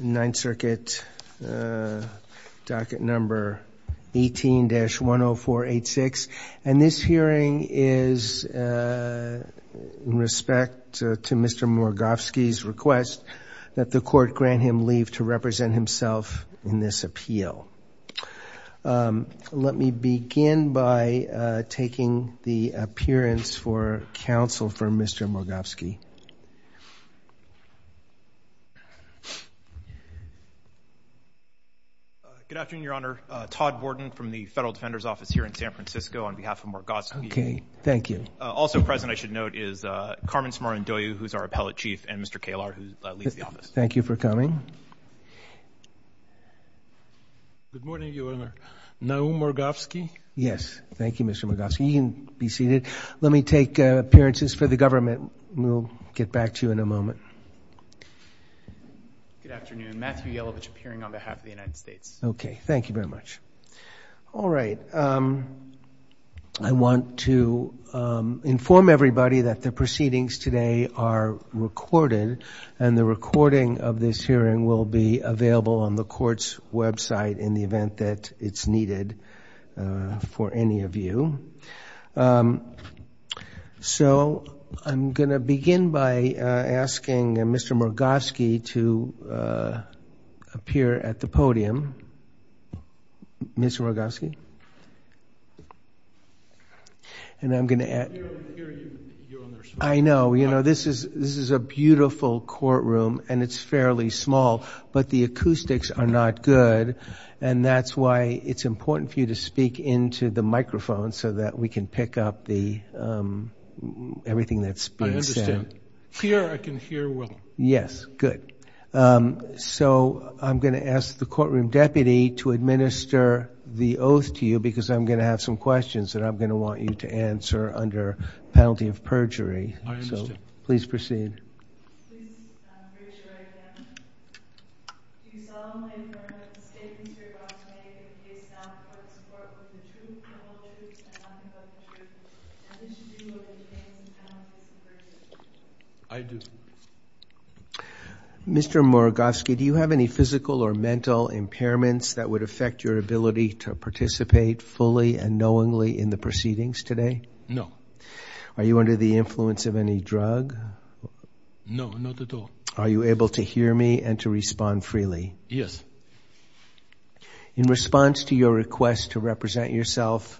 9th Circuit Docket No. 18-10486, and this hearing is in respect to Mr. Morgovsky's request that the court grant him leave to represent himself in this appeal. Let me begin by taking the appearance for counsel for Mr. Morgovsky. Good afternoon, Your Honor. Todd Borden from the Federal Defender's Office here in San Francisco on behalf of Morgovsky. Okay. Thank you. Also present, I should note, is Carmen Smaran-Doyou, who's our appellate chief, and Mr. Kalar, who leads the office. Thank you for coming. Good morning, Your Honor. Naum Morgovsky? Yes. Thank you, Mr. Morgovsky. You can be seated. Let me take appearances for the government, and we'll get back to you in a moment. Good afternoon. Matthew Yelovich, appearing on behalf of the United States. Okay. Thank you very much. All right. I want to inform everybody that the proceedings today are recorded, and the recording of this hearing will be available on the court's website in the event that it's needed for any of you. So I'm going to begin by asking Mr. Morgovsky to appear at the podium. Mr. Morgovsky? And I'm going to ask— I can't hear you, Your Honor. I know. This is a beautiful courtroom, and it's fairly small, but the acoustics are not good, and that's why it's important for you to speak into the microphone so that we can pick up everything that's being said. I understand. Here I can hear well. Yes. Good. So I'm going to ask the courtroom deputy to administer the oath to you because I'm going to have some questions that I'm going to want you to answer under penalty of perjury. I understand. So please proceed. Please raise your right hand. Do you solemnly affirm the statements you are about to make in the case now support both the truth and the lies, and not the false truth, and wish to do so under the same penalty of perjury? I do. Mr. Morgovsky, do you have any physical or mental impairments that would affect your ability to participate fully and knowingly in the proceedings today? No. Are you under the influence of any drug? No, not at all. Are you able to hear me and to respond freely? Yes. In response to your request to represent yourself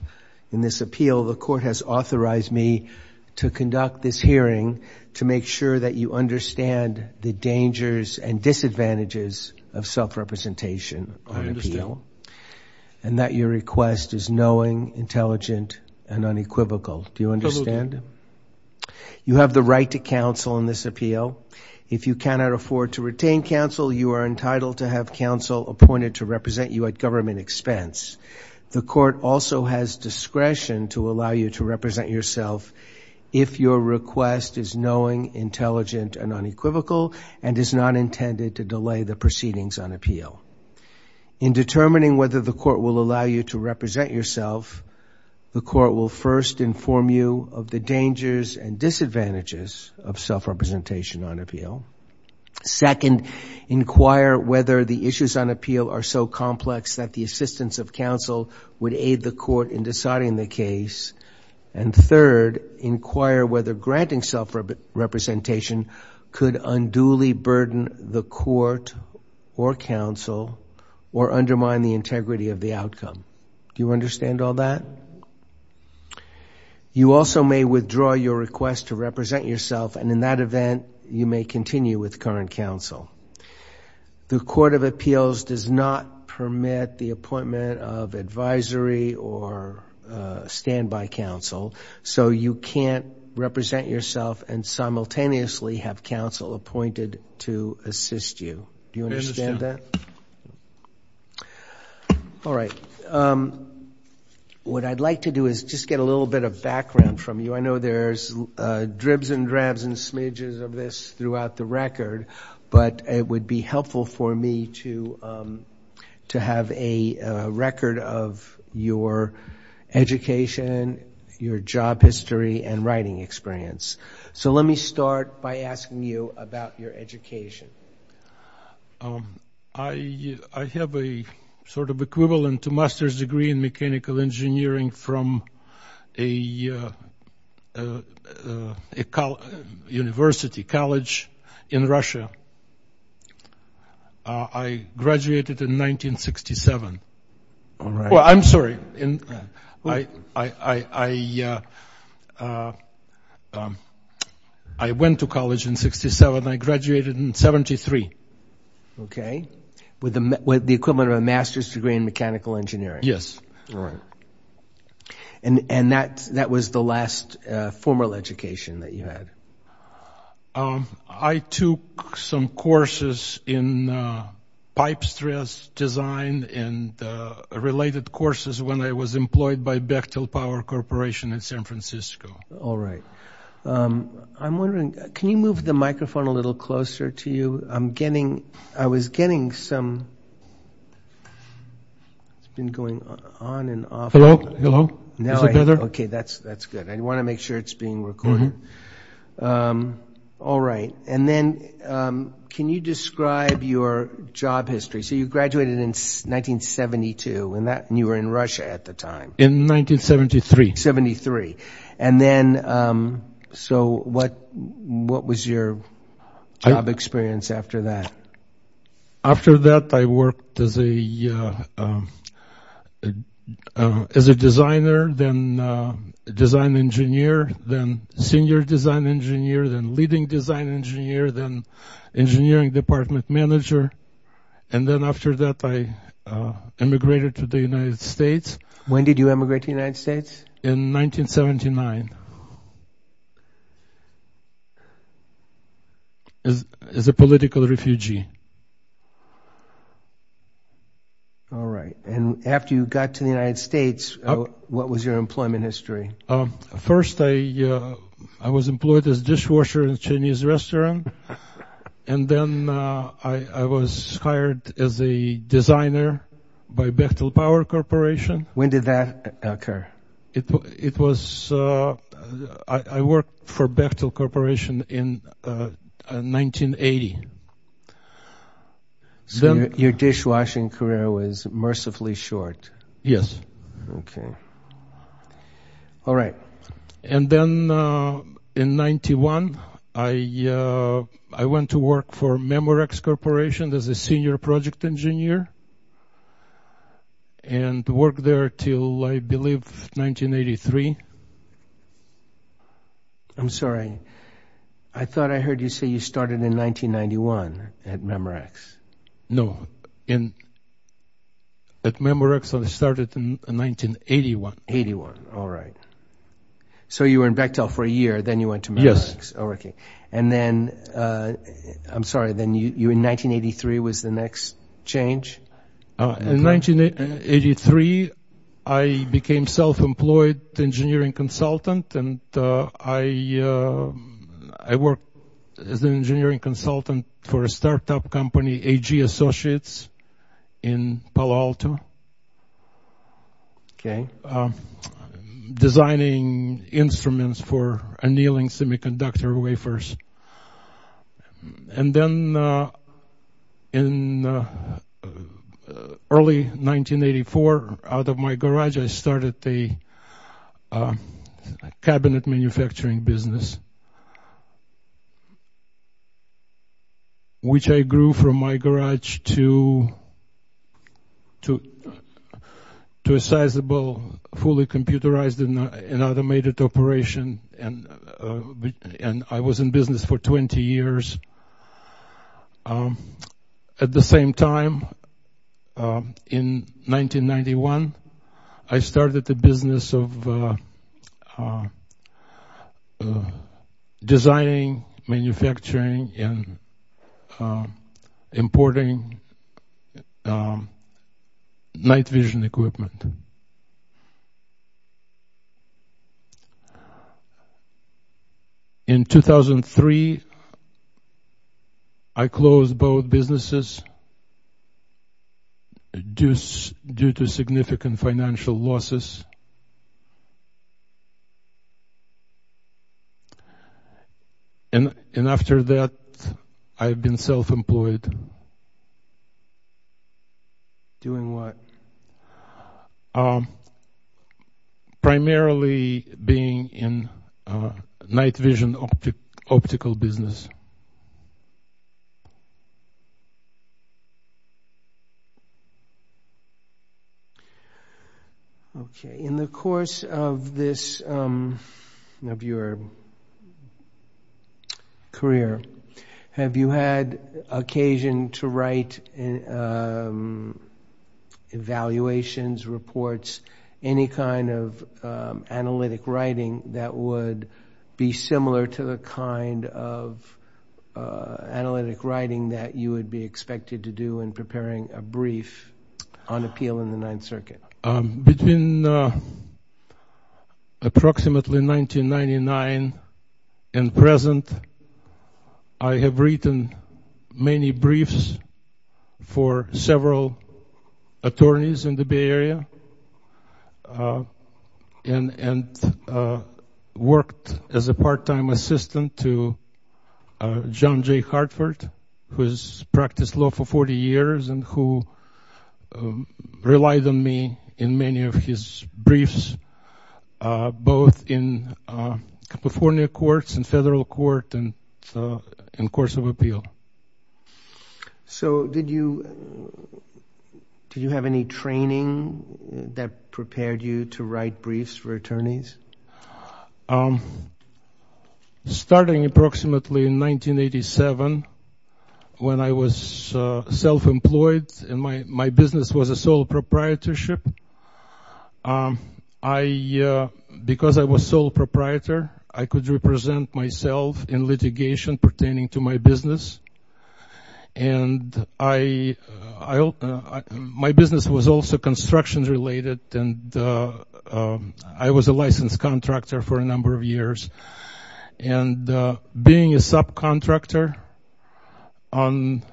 in this appeal, the court has authorized me to conduct this hearing to make sure that you understand the dangers and disadvantages of self-representation on appeal. I understand. And that your request is knowing, intelligent, and unequivocal. Do you understand? Absolutely. You have the right to counsel in this appeal. If you cannot afford to retain counsel, you are entitled to have counsel appointed to represent you at government expense. The court also has discretion to allow you to represent yourself if your request is knowing, intelligent, and unequivocal, and is not intended to delay the proceedings on appeal. In determining whether the court will allow you to represent yourself, the court will first inform you of the dangers and disadvantages of self-representation on appeal. Second, inquire whether the issues on appeal are so complex that the assistance of counsel would aid the court in deciding the case. And third, inquire whether granting self-representation could unduly burden the court or counsel or undermine the integrity of the outcome. Do you understand all that? You also may withdraw your request to represent yourself, and in that event, you may continue with current counsel. The court of appeals does not permit the appointment of advisory or standby counsel, so you can't represent yourself and simultaneously have counsel appointed to assist you. Do you understand that? I understand. All right. What I'd like to do is just get a little bit of background from you. I know there's dribs and drabs and smidges of this throughout the record, but it would be helpful for me to have a record of your education, your job history, and writing experience. So let me start by asking you about your education. I have a sort of equivalent to master's degree in mechanical engineering from a university, college in Russia. I graduated in 1967. All right. Well, I'm sorry. I went to college in 1967. I graduated in 1973. Okay, with the equivalent of a master's degree in mechanical engineering. Yes. All right. And that was the last formal education that you had. I took some courses in pipe stress design and related courses when I was employed by Bechtel Power Corporation in San Francisco. All right. I'm wondering, can you move the microphone a little closer to you? I'm getting – I was getting some – it's been going on and off. Hello? Is it better? Okay, that's good. I want to make sure it's being recorded. All right. And then can you describe your job history? So you graduated in 1972, and you were in Russia at the time. In 1973. 73. And then – so what was your job experience after that? After that, I worked as a designer, then design engineer, then senior design engineer, then leading design engineer, then engineering department manager. And then after that, I immigrated to the United States. When did you emigrate to the United States? In 1979. As a political refugee. All right. And after you got to the United States, what was your employment history? First, I was employed as a dishwasher in a Chinese restaurant. And then I was hired as a designer by Bechtel Power Corporation. When did that occur? It was – I worked for Bechtel Corporation in 1980. So your dishwashing career was mercifully short. Yes. Okay. All right. And then in 1991, I went to work for Memorex Corporation as a senior project engineer and worked there until, I believe, 1983. I'm sorry. I thought I heard you say you started in 1991 at Memorex. No. At Memorex, I started in 1981. 1981. All right. So you were in Bechtel for a year, then you went to Memorex. Yes. Okay. And then – I'm sorry. Then you, in 1983, was the next change? In 1983, I became self-employed engineering consultant, and I worked as an engineering consultant for a startup company, AG Associates, in Palo Alto. Okay. Designing instruments for annealing semiconductor wafers. And then in early 1984, out of my garage, I started the cabinet manufacturing business, which I grew from my garage to a sizable, fully computerized and automated operation, and I was in business for 20 years. At the same time, in 1991, I started the business of designing, manufacturing, and importing night vision equipment. And in 2003, I closed both businesses due to significant financial losses. And after that, I've been self-employed. Doing what? Primarily being in night vision optical business. Okay. In the course of your career, have you had occasion to write evaluations, reports, any kind of analytic writing that would be similar to the kind of analytic writing that you would be expected to do in preparing a brief on appeal in the Ninth Circuit? Between approximately 1999 and present, I have written many briefs for several attorneys in the Bay Area and worked as a part-time assistant to John J. Hartford, who has practiced law for 40 years and who relied on me in many of his briefs, both in California courts and federal court and course of appeal. So did you have any training that prepared you to write briefs for attorneys? Yes. Starting approximately in 1987, when I was self-employed and my business was a sole proprietorship, because I was sole proprietor, I could represent myself in litigation pertaining to my business. And my business was also construction-related, and I was a licensed contractor for a number of years. And being a subcontractor on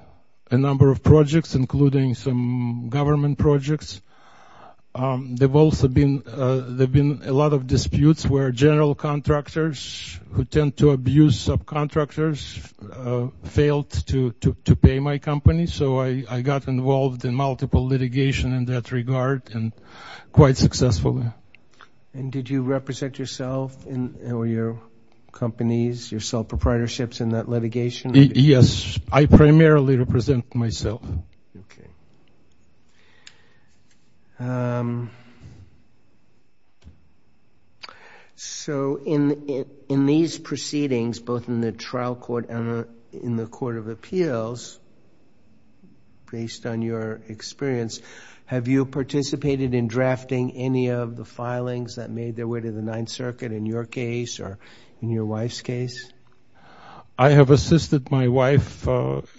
a number of projects, including some government projects, there have been a lot of disputes where general contractors who tend to abuse subcontractors failed to pay my company. So I got involved in multiple litigation in that regard and quite successfully. And did you represent yourself or your companies, your sole proprietorships in that litigation? Yes. I primarily represent myself. Okay. Okay. So in these proceedings, both in the trial court and in the court of appeals, based on your experience, have you participated in drafting any of the filings that made their way to the Ninth Circuit in your case or in your wife's case? I have assisted my wife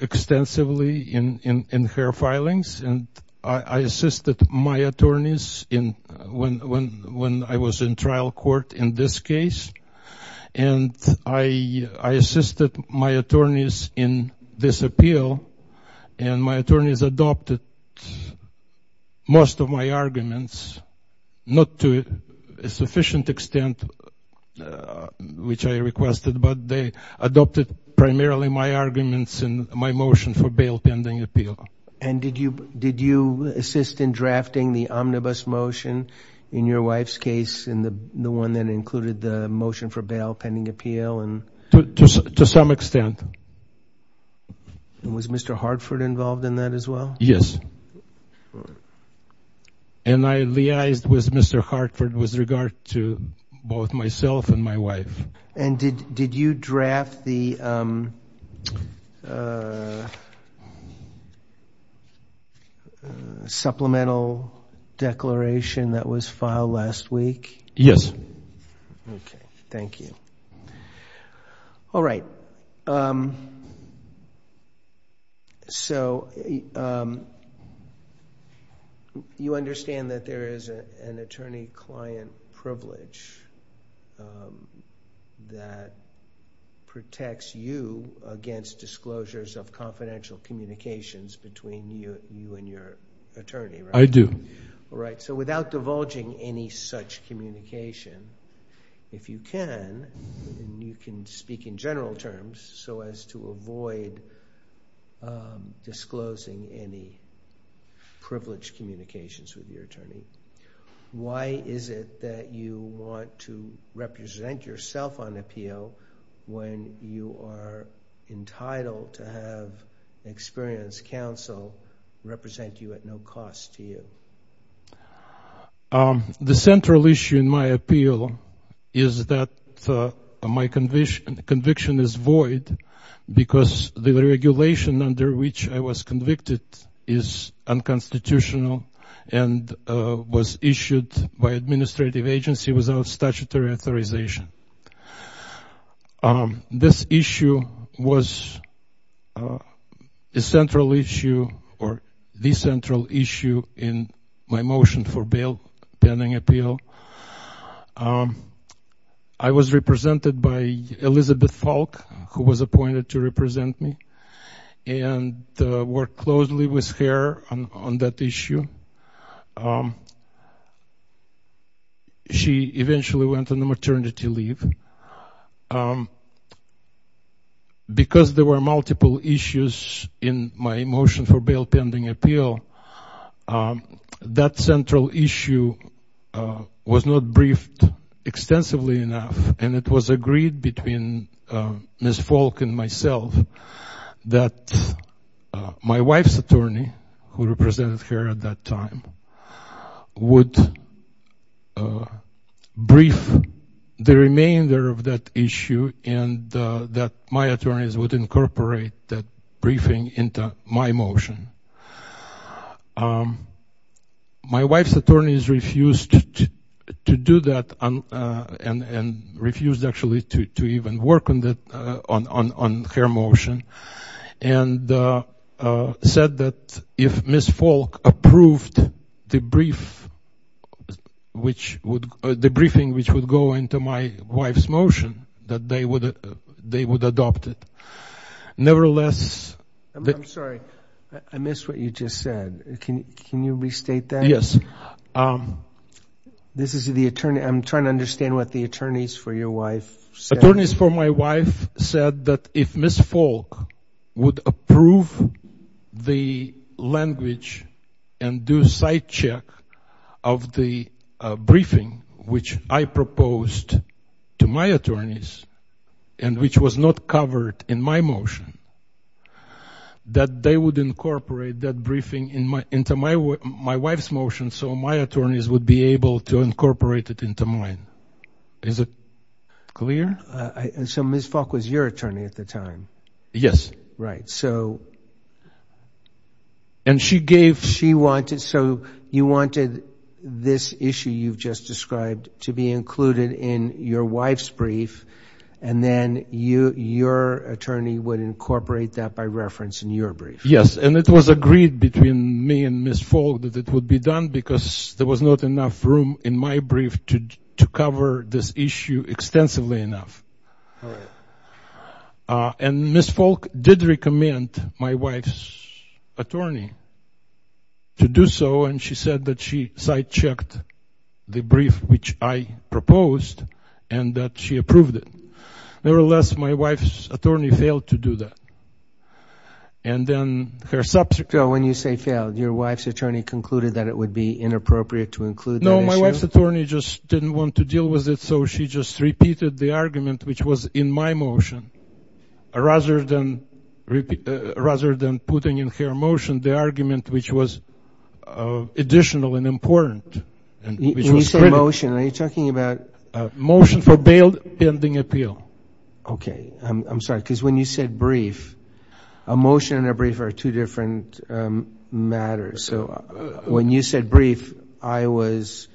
extensively in her filings, and I assisted my attorneys when I was in trial court in this case. And I assisted my attorneys in this appeal, and my attorneys adopted most of my arguments, not to a sufficient extent, which I requested, but they adopted primarily my arguments and my motion for bail pending appeal. And did you assist in drafting the omnibus motion in your wife's case and the one that included the motion for bail pending appeal? To some extent. And was Mr. Hartford involved in that as well? Yes. And I liaised with Mr. Hartford with regard to both myself and my wife. And did you draft the supplemental declaration that was filed last week? Yes. Okay. Thank you. All right. So you understand that there is an attorney-client privilege that protects you against disclosures of confidential communications between you and your attorney, right? I do. All right. So without divulging any such communication, if you can, and you can speak in general terms so as to avoid disclosing any privileged communications with your attorney, why is it that you want to represent yourself on appeal when you are entitled to have experienced counsel represent you at no cost to you? The central issue in my appeal is that my conviction is void because the regulation under which I was convicted is unconstitutional and was issued by administrative agency without statutory authorization. This issue was a central issue or the central issue in my motion for bail pending appeal. I was represented by Elizabeth Falk, who was appointed to represent me, and worked closely with her on that issue. She eventually went on a maternity leave. Because there were multiple issues in my motion for bail pending appeal, that central issue was not briefed extensively enough, and it was agreed between Ms. Falk and myself that my wife's attorney, who represented her at that time, would brief the remainder of that issue and that my attorneys would incorporate that briefing into my motion. My wife's attorneys refused to do that and refused actually to even work on her motion and said that if Ms. Falk approved the briefing which would go into my wife's motion, that they would adopt it. Nevertheless, I'm sorry. I missed what you just said. Can you restate that? Yes. This is the attorney. I'm trying to understand what the attorneys for your wife said. The attorneys for my wife said that if Ms. Falk would approve the language and do site check of the briefing which I proposed to my attorneys and which was not covered in my motion, that they would incorporate that briefing into my wife's motion so my attorneys would be able to incorporate it into mine. Is it clear? So Ms. Falk was your attorney at the time? Yes. Right. So you wanted this issue you've just described to be included in your wife's brief and then your attorney would incorporate that by reference in your brief? Yes. And it was agreed between me and Ms. Falk that it would be done because there was not enough room in my brief to cover this issue extensively enough. Right. And Ms. Falk did recommend my wife's attorney to do so and she said that she site checked the brief which I proposed and that she approved it. Nevertheless, my wife's attorney failed to do that. So when you say failed, your wife's attorney concluded that it would be inappropriate to include that issue? No, my wife's attorney just didn't want to deal with it so she just repeated the argument which was in my motion rather than putting in her motion the argument which was additional and important. When you say motion, are you talking about? Motion for bail pending appeal. Okay. I'm sorry because when you said brief, a motion and a brief are two different matters. So when you said brief, I was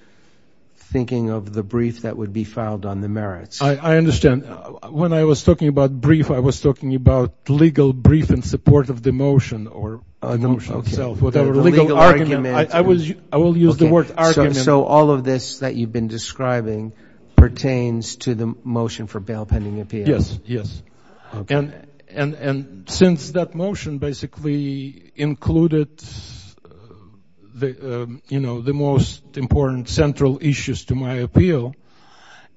thinking of the brief that would be filed on the merits. I understand. When I was talking about brief, I was talking about legal brief in support of the motion or the motion itself. Okay. The legal argument. I will use the word argument. So all of this that you've been describing pertains to the motion for bail pending appeal? Yes, yes. Okay. And since that motion basically included the most important central issues to my appeal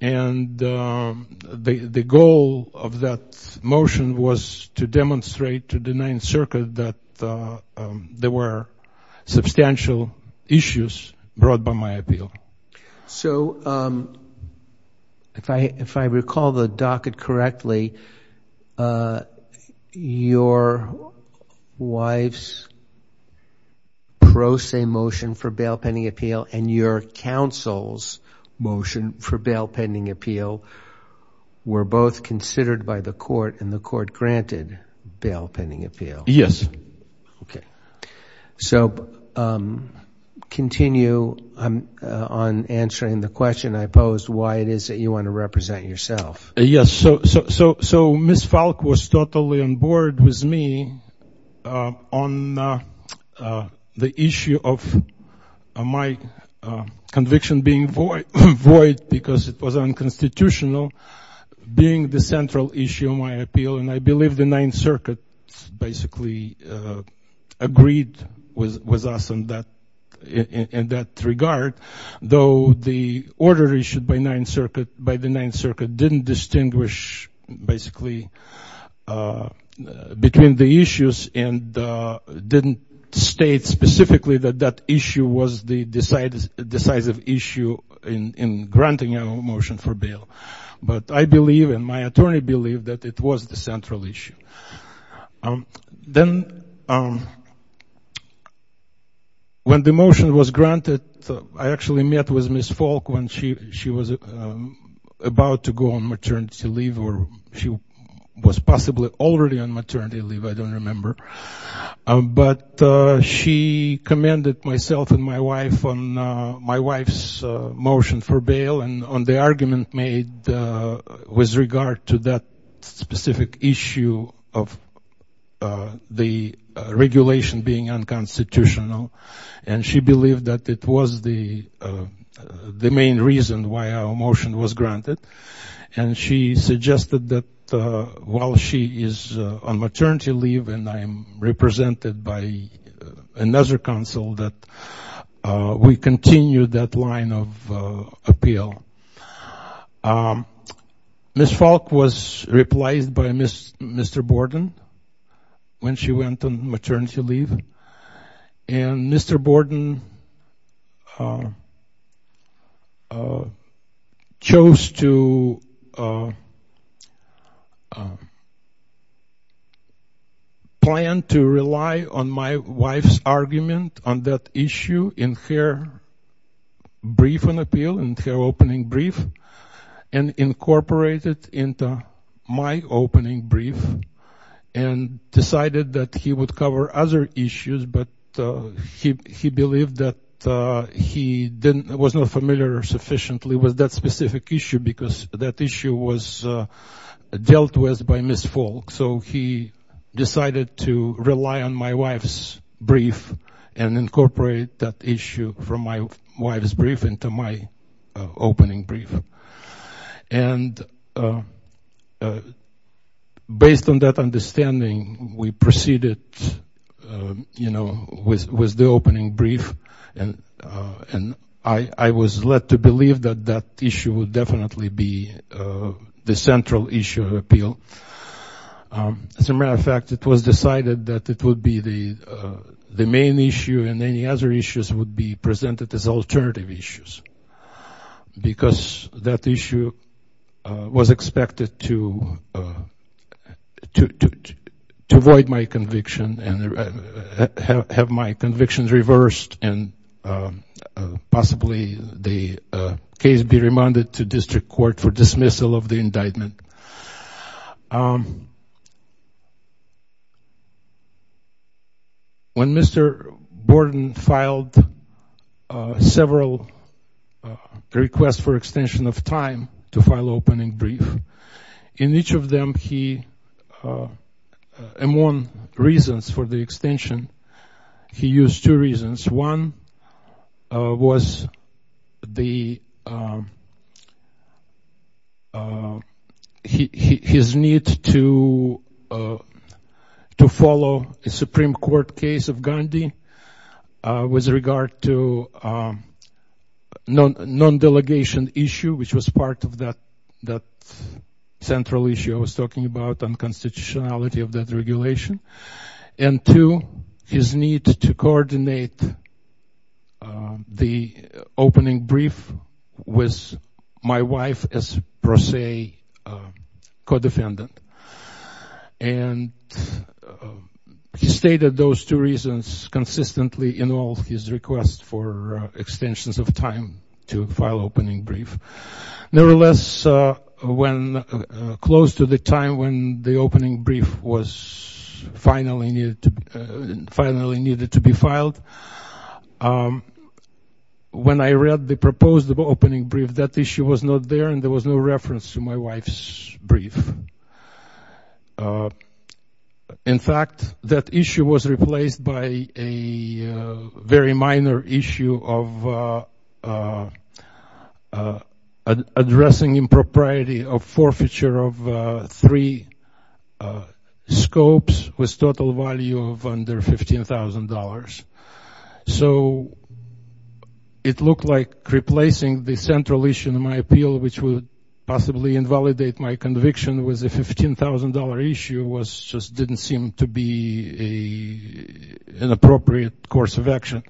and the goal of that motion was to demonstrate to the Ninth Circuit that there were substantial issues brought by my appeal. So if I recall the docket correctly, your wife's pro se motion for bail pending appeal and your counsel's motion for bail pending appeal were both considered by the court and the court granted bail pending appeal. Yes. Okay. So continue on answering the question I posed, why it is that you want to represent yourself. Yes. So Ms. Falk was totally on board with me on the issue of my conviction being void because it was unconstitutional being the central issue of my appeal. And I believe the Ninth Circuit basically agreed with us in that regard, though the order issued by the Ninth Circuit didn't distinguish basically between the issues and didn't state specifically that that issue was the decisive issue in granting a motion for bail. But I believe and my attorney believed that it was the central issue. Then when the motion was granted, I actually met with Ms. Falk when she was about to go on maternity leave or she was possibly already on maternity leave, I don't remember. But she commended myself and my wife on my wife's motion for bail and on the argument made with regard to that specific issue of the regulation being unconstitutional. And she believed that it was the main reason why our motion was granted. And she suggested that while she is on maternity leave and I am represented by another counsel that we continue that line of appeal. Ms. Falk was replaced by Mr. Borden when she went on maternity leave. And Mr. Borden chose to plan to rely on my wife's argument on that issue in her brief on appeal, in her opening brief, and incorporated into my opening brief and decided that he would cover other issues but he believed that he was not familiar sufficiently with that specific issue because that issue was dealt with by Ms. Falk. So he decided to rely on my wife's brief and incorporate that issue from my wife's brief into my opening brief. And based on that understanding, we proceeded, you know, with the opening brief and I was led to believe that that issue would definitely be the central issue of appeal. As a matter of fact, it was decided that it would be the main issue and any other issues would be presented as alternative issues because that issue was expected to avoid my conviction and have my convictions reversed and possibly the case be remanded to district court for dismissal of the indictment. When Mr. Borden filed several requests for extension of time to file opening brief, in each of them he, among reasons for the extension, he used two reasons. One was his need to follow a Supreme Court case of Gandhi with regard to non-delegation issue, which was part of that central issue I was talking about, unconstitutionality of that regulation. And two, his need to coordinate the opening brief with my wife as, per se, co-defendant. And he stated those two reasons consistently in all his requests for extensions of time to file opening brief. Nevertheless, when close to the time when the opening brief was finally needed to be filed, when I read the proposed opening brief, that issue was not there and there was no reference to my wife's brief. In fact, that issue was replaced by a very minor issue of addressing impropriety of forfeiture of three scopes with total value of under $15,000. So it looked like replacing the central issue in my appeal, which would possibly invalidate my conviction with a $15,000 issue, just didn't seem to be an appropriate course of action.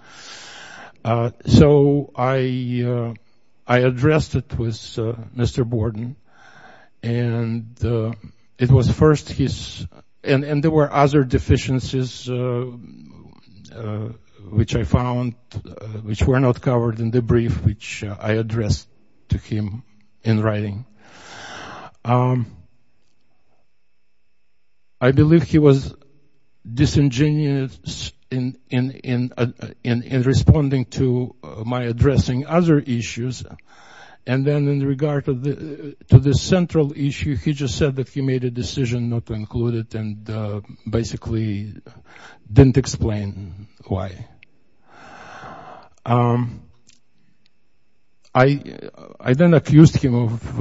So I addressed it with Mr. Borden. And it was first his, and there were other deficiencies which I found, which were not covered in the brief which I addressed to him in writing. I believe he was disingenuous in responding to my addressing other issues. And then in regard to the central issue, he just said that he made a decision not to include it and basically didn't explain why. I then accused him of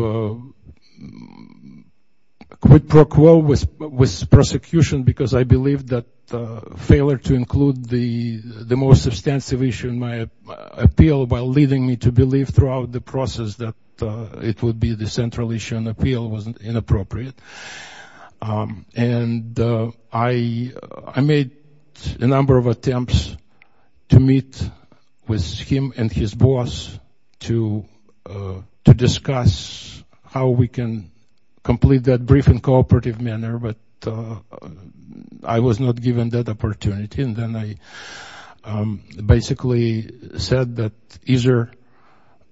quid pro quo with prosecution because I believed that failure to include the most substantive issue in my appeal while leading me to believe throughout the process that it would be the central issue in the appeal was inappropriate. And I made a number of attempts to meet with him and his boss to discuss how we can complete that brief in a cooperative manner, but I was not given that opportunity. And then I basically said that either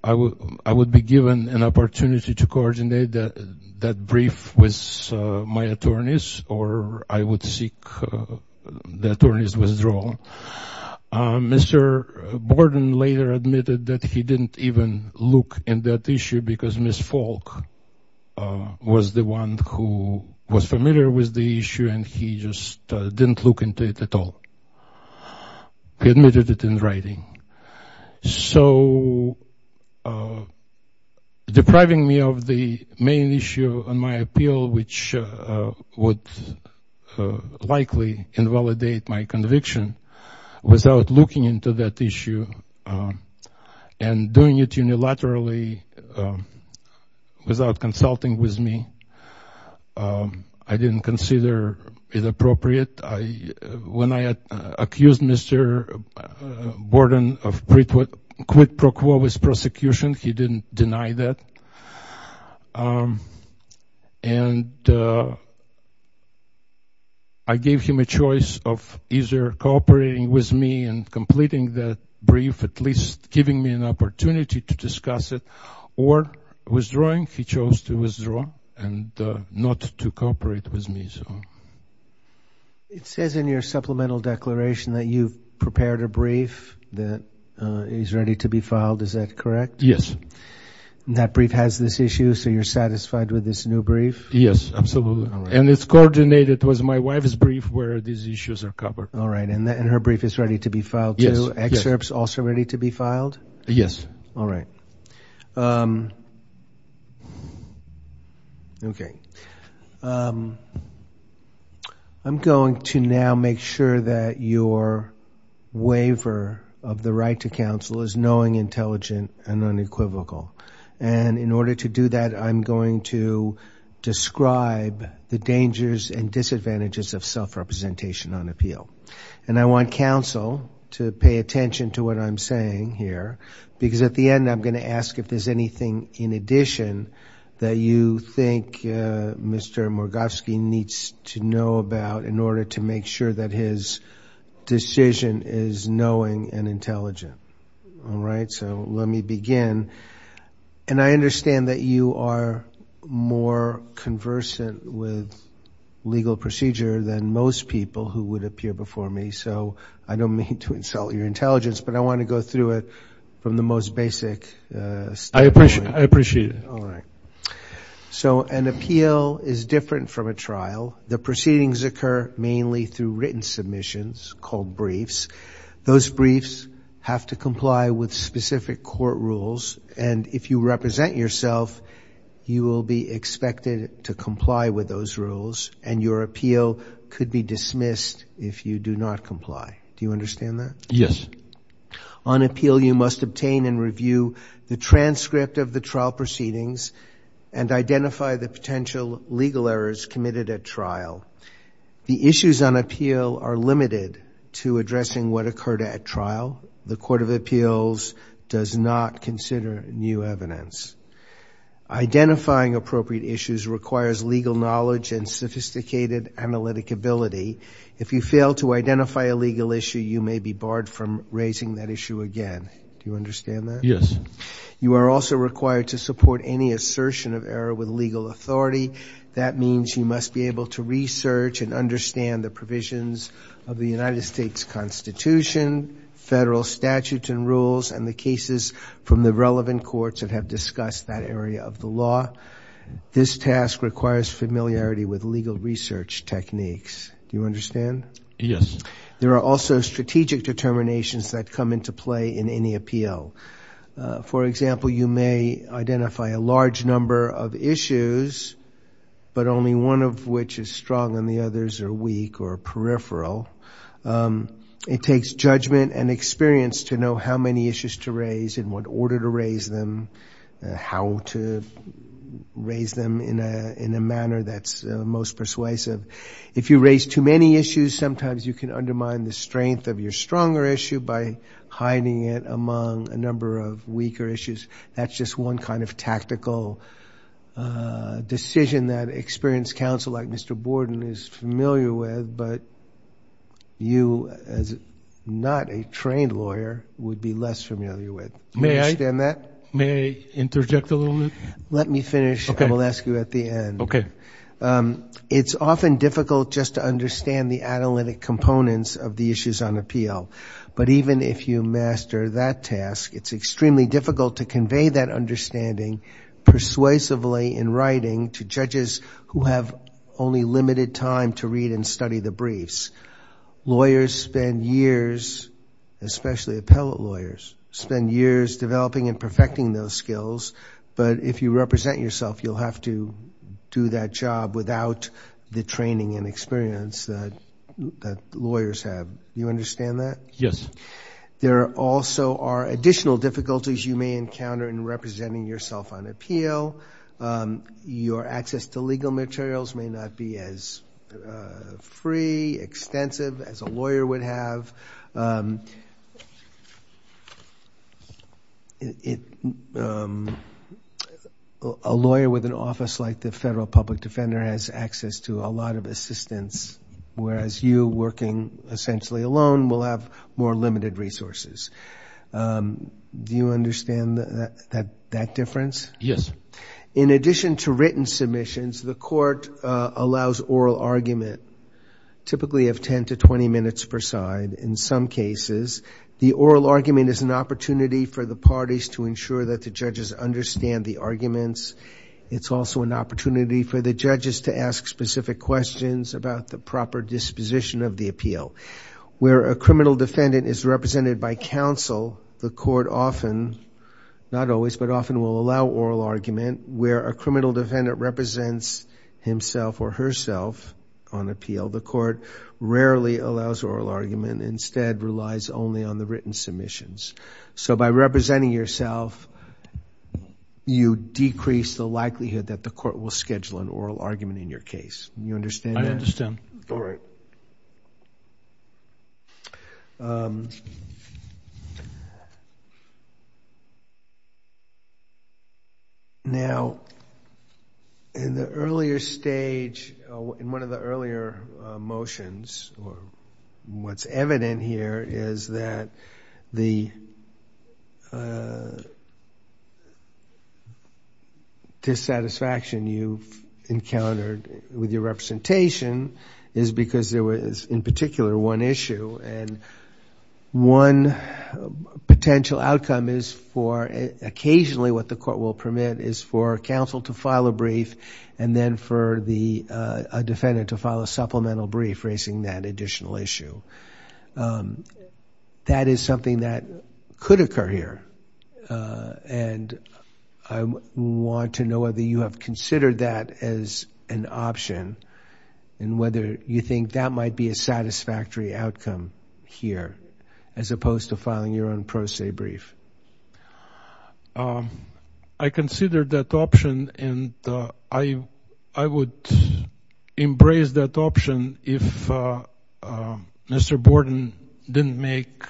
I would be given an opportunity to coordinate that brief with my attorneys or I would seek the attorney's withdrawal. Mr. Borden later admitted that he didn't even look in that issue because Ms. Falk was the one who was familiar with the issue and he just didn't look into it at all. He admitted it in writing. So depriving me of the main issue in my appeal which would likely invalidate my conviction without looking into that issue and doing it unilaterally without consulting with me, I didn't consider it appropriate. When I accused Mr. Borden of quid pro quo with prosecution, he didn't deny that. And I gave him a choice of either cooperating with me and completing that brief, at least giving me an opportunity to discuss it, or withdrawing. He chose to withdraw and not to cooperate with me. It says in your supplemental declaration that you've prepared a brief that is ready to be filed. Is that correct? Yes. And that brief has this issue so you're satisfied with this new brief? Yes, absolutely. And it's coordinated with my wife's brief where these issues are covered. All right. And her brief is ready to be filed too? Yes. I'm going to now make sure that your waiver of the right to counsel is knowing, intelligent, and unequivocal. And in order to do that, I'm going to describe the dangers and disadvantages of self-representation on appeal. And I want counsel to pay attention to what I'm saying here, because at the end I'm going to ask if there's anything in addition that you think Mr. Morgowski needs to know about in order to make sure that his decision is knowing and intelligent. All right? So let me begin. And I understand that you are more conversant with legal procedure than most people who would appear before you. So I don't mean to insult your intelligence, but I want to go through it from the most basic standpoint. I appreciate it. All right. So an appeal is different from a trial. The proceedings occur mainly through written submissions called briefs. Those briefs have to comply with specific court rules. And if you represent yourself, you will be expected to comply with those rules. And your appeal could be dismissed if you do not comply. Do you understand that? Yes. On appeal, you must obtain and review the transcript of the trial proceedings and identify the potential legal errors committed at trial. The issues on appeal are limited to addressing what occurred at trial. The Court of Appeals does not consider new evidence. Identifying appropriate issues requires legal knowledge and sophisticated analytic ability. If you fail to identify a legal issue, you may be barred from raising that issue again. Do you understand that? Yes. You are also required to support any assertion of error with legal authority. That means you must be able to research and understand the provisions of the United States Constitution, federal statutes and rules, and the cases from the relevant courts that have discussed that area of the law. This task requires familiarity with legal research techniques. Do you understand? Yes. There are also strategic determinations that come into play in any appeal. For example, you may identify a large number of issues, but only one of which is strong and the others are weak or peripheral. It takes judgment and experience to know how many issues to raise, in what order to raise them, how to raise them in a manner that's most persuasive. If you raise too many issues, sometimes you can undermine the strength of your stronger issue by hiding it among a number of weaker issues. That's just one kind of tactical decision that experienced counsel like Mr. Borden is familiar with, but you, as not a trained lawyer, would be less familiar with. May I interject a little bit? Let me finish. I will ask you at the end. It's often difficult just to understand the analytic components of the issues on appeal, but even if you master that task, it's extremely difficult to convey that understanding persuasively in writing to judges who have only limited time to read and study the briefs. Lawyers spend years, especially appellate lawyers, spend years developing and perfecting those skills, and if you represent yourself, you'll have to do that job without the training and experience that lawyers have. Do you understand that? Yes. There also are additional difficulties you may encounter in representing yourself on appeal. Your access to legal materials may not be as free, extensive as a lawyer would have. A lawyer with an office like the Federal Public Defender has access to a lot of assistance, whereas you working essentially alone will have more limited resources. Do you understand that difference? Yes. In addition to written submissions, the court allows oral argument, typically of 10 to 20 minutes per side in some cases. The oral argument is an opportunity for the parties to ensure that the judges understand the arguments. It's also an opportunity for the judges to ask specific questions about the proper disposition of the appeal. Where a criminal defendant is represented by counsel, the court often, not always, but often will allow oral argument. Where a criminal defendant represents himself or herself on appeal, the court rarely allows oral argument, instead relies only on the written submissions. By representing yourself, you decrease the likelihood that the court will schedule an oral argument in your case. Do you understand that? I understand. All right. Now, in the earlier stage, in one of the earlier motions, what's evident here is that the issue is one potential outcome. Occasionally what the court will permit is for counsel to file a brief, and then for a defendant to file a supplemental brief raising that additional issue. That is something that could occur here. I want to know whether you have considered that as an option, and whether you think that might be a satisfactory outcome here, as opposed to filing your own pro se brief. I considered that option, and I would embrace that option if Mr. Borden didn't make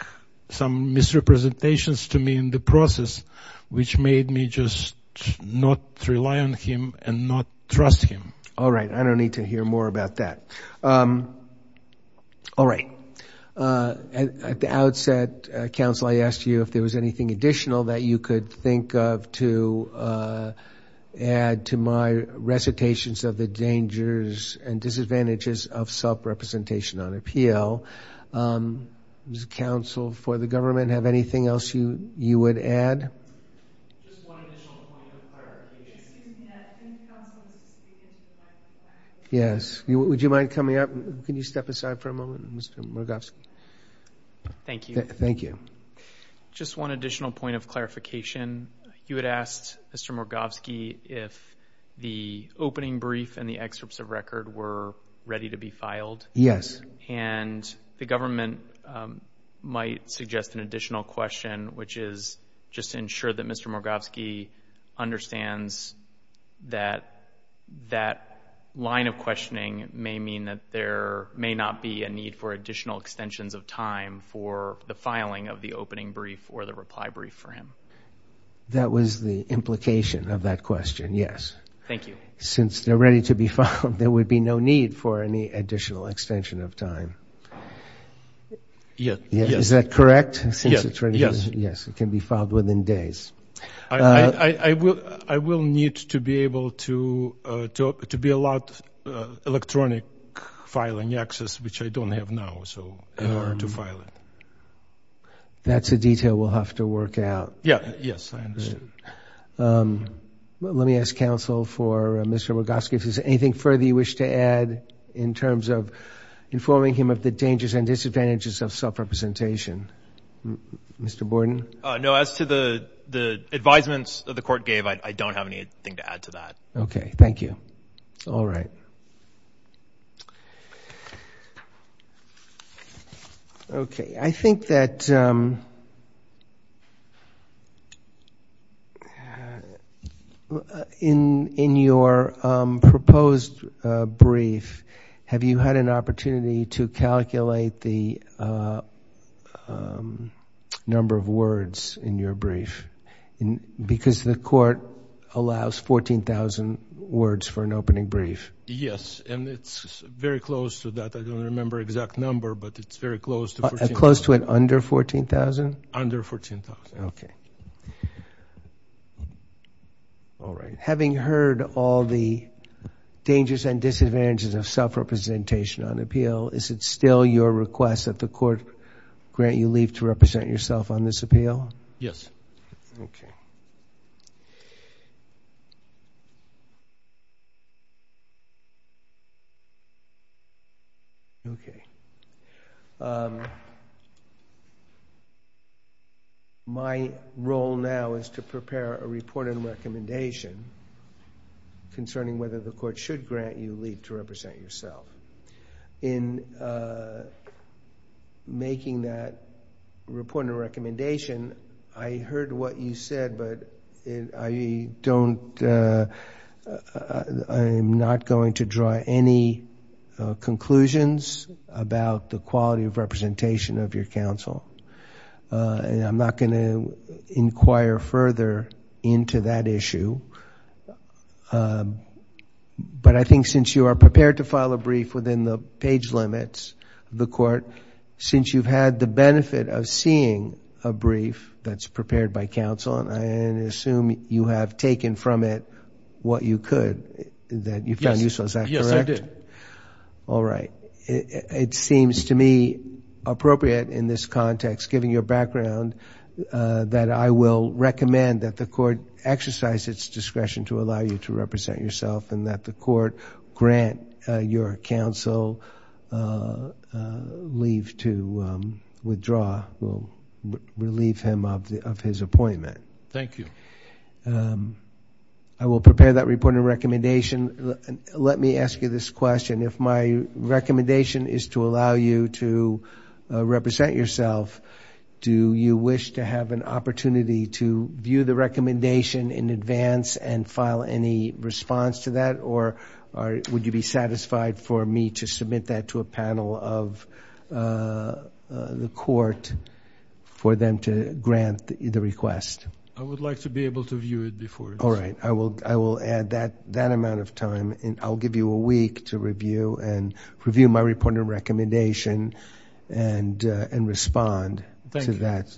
some misrepresentations to me in the process, which made me just not rely on him and not trust him. All right. I don't need to hear more about that. At the outset, counsel, I asked you if there was anything additional that you could think of to add to my recitations of the dangers and disadvantages of self-representation on appeal. Counsel for the government, have anything else you would add? Just one additional point of clarification. Yes. Would you mind coming up? Can you step aside for a moment, Mr. Morgowski? Thank you. Just one additional point of clarification. You had asked Mr. Morgowski if the opening brief and the excerpts of record were ready to be filed. Yes. And the government might suggest an additional question, which is just to ensure that Mr. Morgowski understands that that line of questioning may mean that there may not be a need for additional extensions of time for the filing of the opening brief or the reply brief for him. That was the implication of that question, yes. Thank you. Since they're ready to be filed, there would be no need for any additional extension of time. Is that correct? Yes. It can be filed within days. I will need to be able to be allowed electronic filing access, which I don't have now, in order to file it. That's a detail we'll have to work out. Yes, I understand. Let me ask counsel for Mr. Morgowski if there's anything further you wish to add in terms of informing him of the dangers and disadvantages of self-representation. Mr. Borden. No, as to the advisements that the court gave, I don't have anything to add to that. Okay, thank you. All right. Okay, I think that in your proposed brief, have you had an opportunity to calculate the number of words in your brief? Because the court allows 14,000 words for an opening brief. Yes, and it's very close to that. I don't remember exact number, but it's very close to 14,000. Having heard all the dangers and disadvantages of self-representation on appeal, is it still your request that the court grant you leave to represent yourself on this appeal? Yes. Okay. My role now is to prepare a report and recommendation concerning whether the court should grant you leave to represent yourself. In making that report and recommendation, I heard what you said, but I'm not going to draw any conclusions about the quality of representation of your counsel. And I'm not going to inquire further into that issue. But I think since you are prepared to file a brief within the page limits of the court, since you've had the benefit of seeing a brief that's prepared by counsel, and assume you have taken from it what you could, that you found useful. Is that correct? Yes, I did. All right. It seems to me appropriate in this context, given your background, that I will recommend that the court exercise its discretion to allow you to represent yourself and that the court grant your counsel leave to withdraw, relieve him of his appointment. I will prepare that report and recommendation. Let me ask you this question. If my recommendation is to allow you to represent yourself, do you wish to have an opportunity to view the recommendation in advance and file any response to that? Or would you be satisfied for me to submit that to a panel of the court for them to grant the request? I would like to be able to view it before. All right. I will add that amount of time. I will give you a week to review my report and recommendation and respond to that.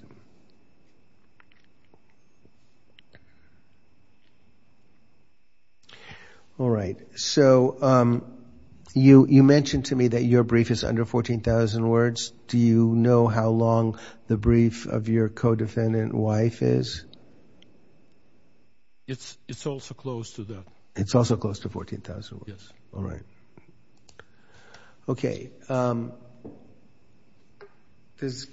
All right. You mentioned to me that your brief is under 14,000 words. Do you know how long the brief of your co-defendant wife is? It's also close to 14,000 words. All right. Does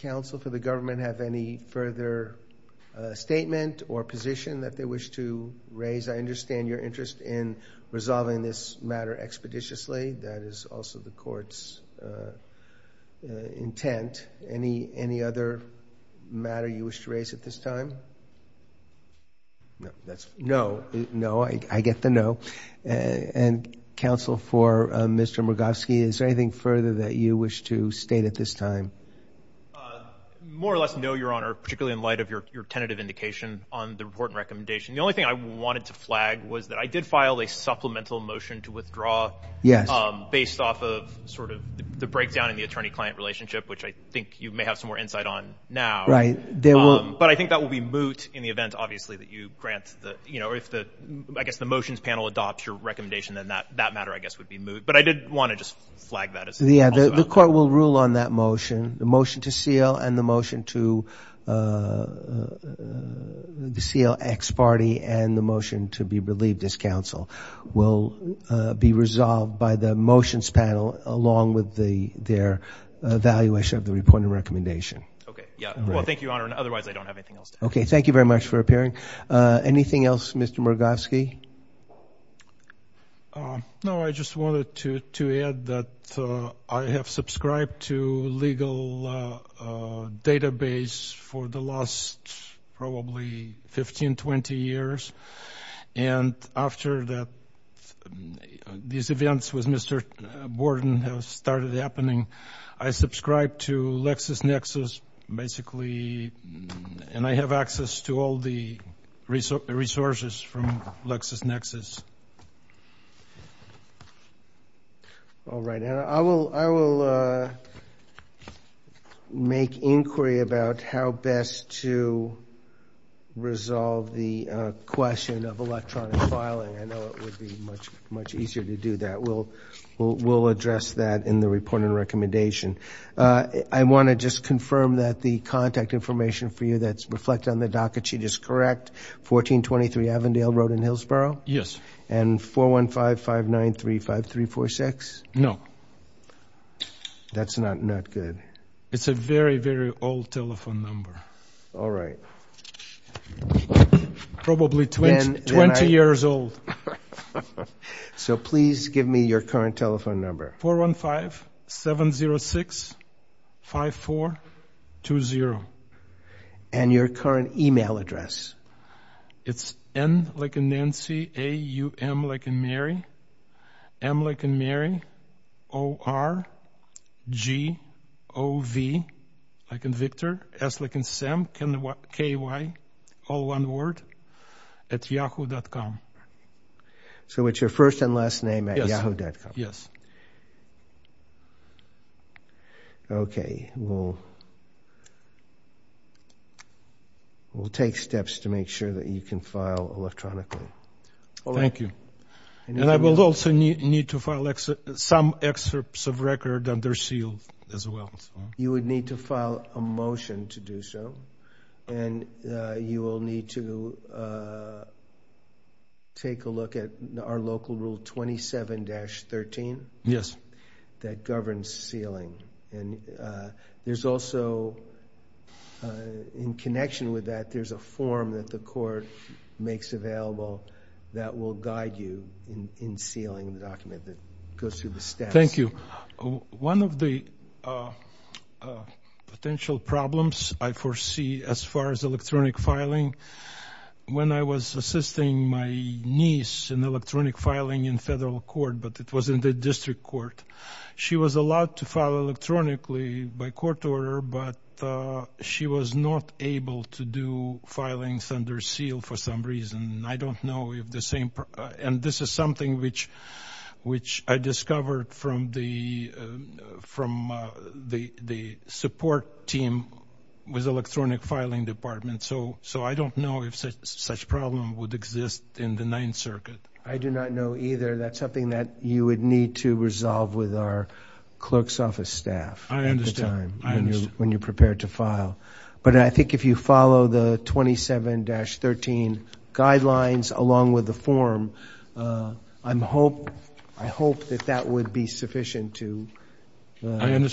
counsel for the government have any further statement or position that they wish to raise? I understand your interest in resolving this matter expeditiously. That is also the court's intent. Any other matter you wish to raise at this time? No. I get the no. Counsel for Mr. Murgovsky, is there anything further that you wish to state at this time? More or less no, Your Honor, particularly in light of your tentative indication on the report and recommendation. The only thing I wanted to flag was that I did file a supplemental motion to withdraw based off of sort of the breakdown in the attorney-client relationship, which I think you may have some more insight on now. Right. But I think that will be moot in the event, obviously, that you grant the – I guess if the motions panel adopts your recommendation, then that matter, I guess, would be moot. But I did want to just flag that. The court will rule on that motion, the motion to seal and the motion to seal ex parte and the motion to be relieved as counsel will be resolved by the motions panel along with their evaluation of the report and recommendation. Well, thank you, Your Honor, and otherwise I don't have anything else to add. Okay. Thank you very much for appearing. Anything else, Mr. Murgovsky? No, I just wanted to add that I have subscribed to legal database for the last probably 15, 20 years, and after these events with Mr. Borden have started happening, I subscribed to LexisNexis basically, and I have access to all the resources from LexisNexis. All right. I will make inquiry about how best to resolve the question of electronic filing. I know it would be much easier to do that. I want to just confirm that the contact information for you that's reflected on the docket sheet is correct, 1423 Avondale Road in Hillsborough? Yes. And 415-593-5346? No. That's not good. It's a very, very old telephone number. All right. Probably 20 years old. So please give me your current telephone number. 415-706-5420. And your current e-mail address? It's N, like in Nancy, A-U-M, like in Mary, M, like in Mary, O-R-G-O-V, like in Victor, S, like in Sam, K-Y, all one word, at yahoo.com. So it's your first and last name at yahoo.com? Yes. Okay. We'll take steps to make sure that you can file electronically. Thank you. And I will also need to file some excerpts of record under seal as well. You would need to file a motion to do so, and you will need to take a look at our local rule 27-13. Yes. That governs sealing. And there's also, in connection with that, there's a form that the court makes available that will guide you in sealing the document that goes through the steps. Thank you. One of the potential problems I foresee as far as electronic filing, when I was assisting my niece in electronic filing in federal court, but it was in the district court, she was allowed to file electronically by court order, but she was not able to do filings under seal for some reason. And this is something which I discovered from the support team with electronic filing department. So I don't know if such problem would exist in the Ninth Circuit. I do not know either. That's something that you would need to resolve with our clerk's office staff. I understand. When you're prepared to file. But I think if you follow the 27-13 guidelines along with the form, I hope that that would be sufficient to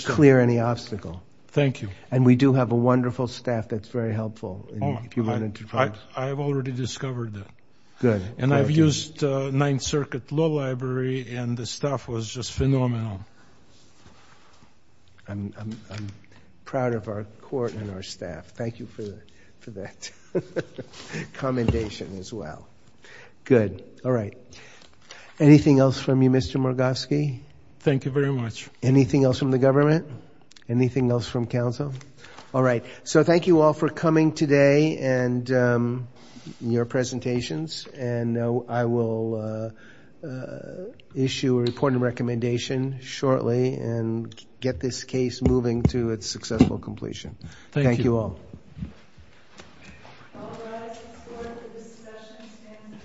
clear any obstacle. Thank you. And we do have a wonderful staff that's very helpful. I've already discovered that. Good. And I've used Ninth Circuit Law Library, and the staff was just phenomenal. I'm proud of our court and our staff. Thank you for that commendation as well. Good. All right. Anything else from you, Mr. Morgowski? Thank you very much. Anything else from the government? Anything else from counsel? All right. So thank you all for coming today and your presentations. And I will issue a report and recommendation shortly and get this case moving to its successful completion. Thank you all. Thank you. All rise. The court for this session stands adjourned.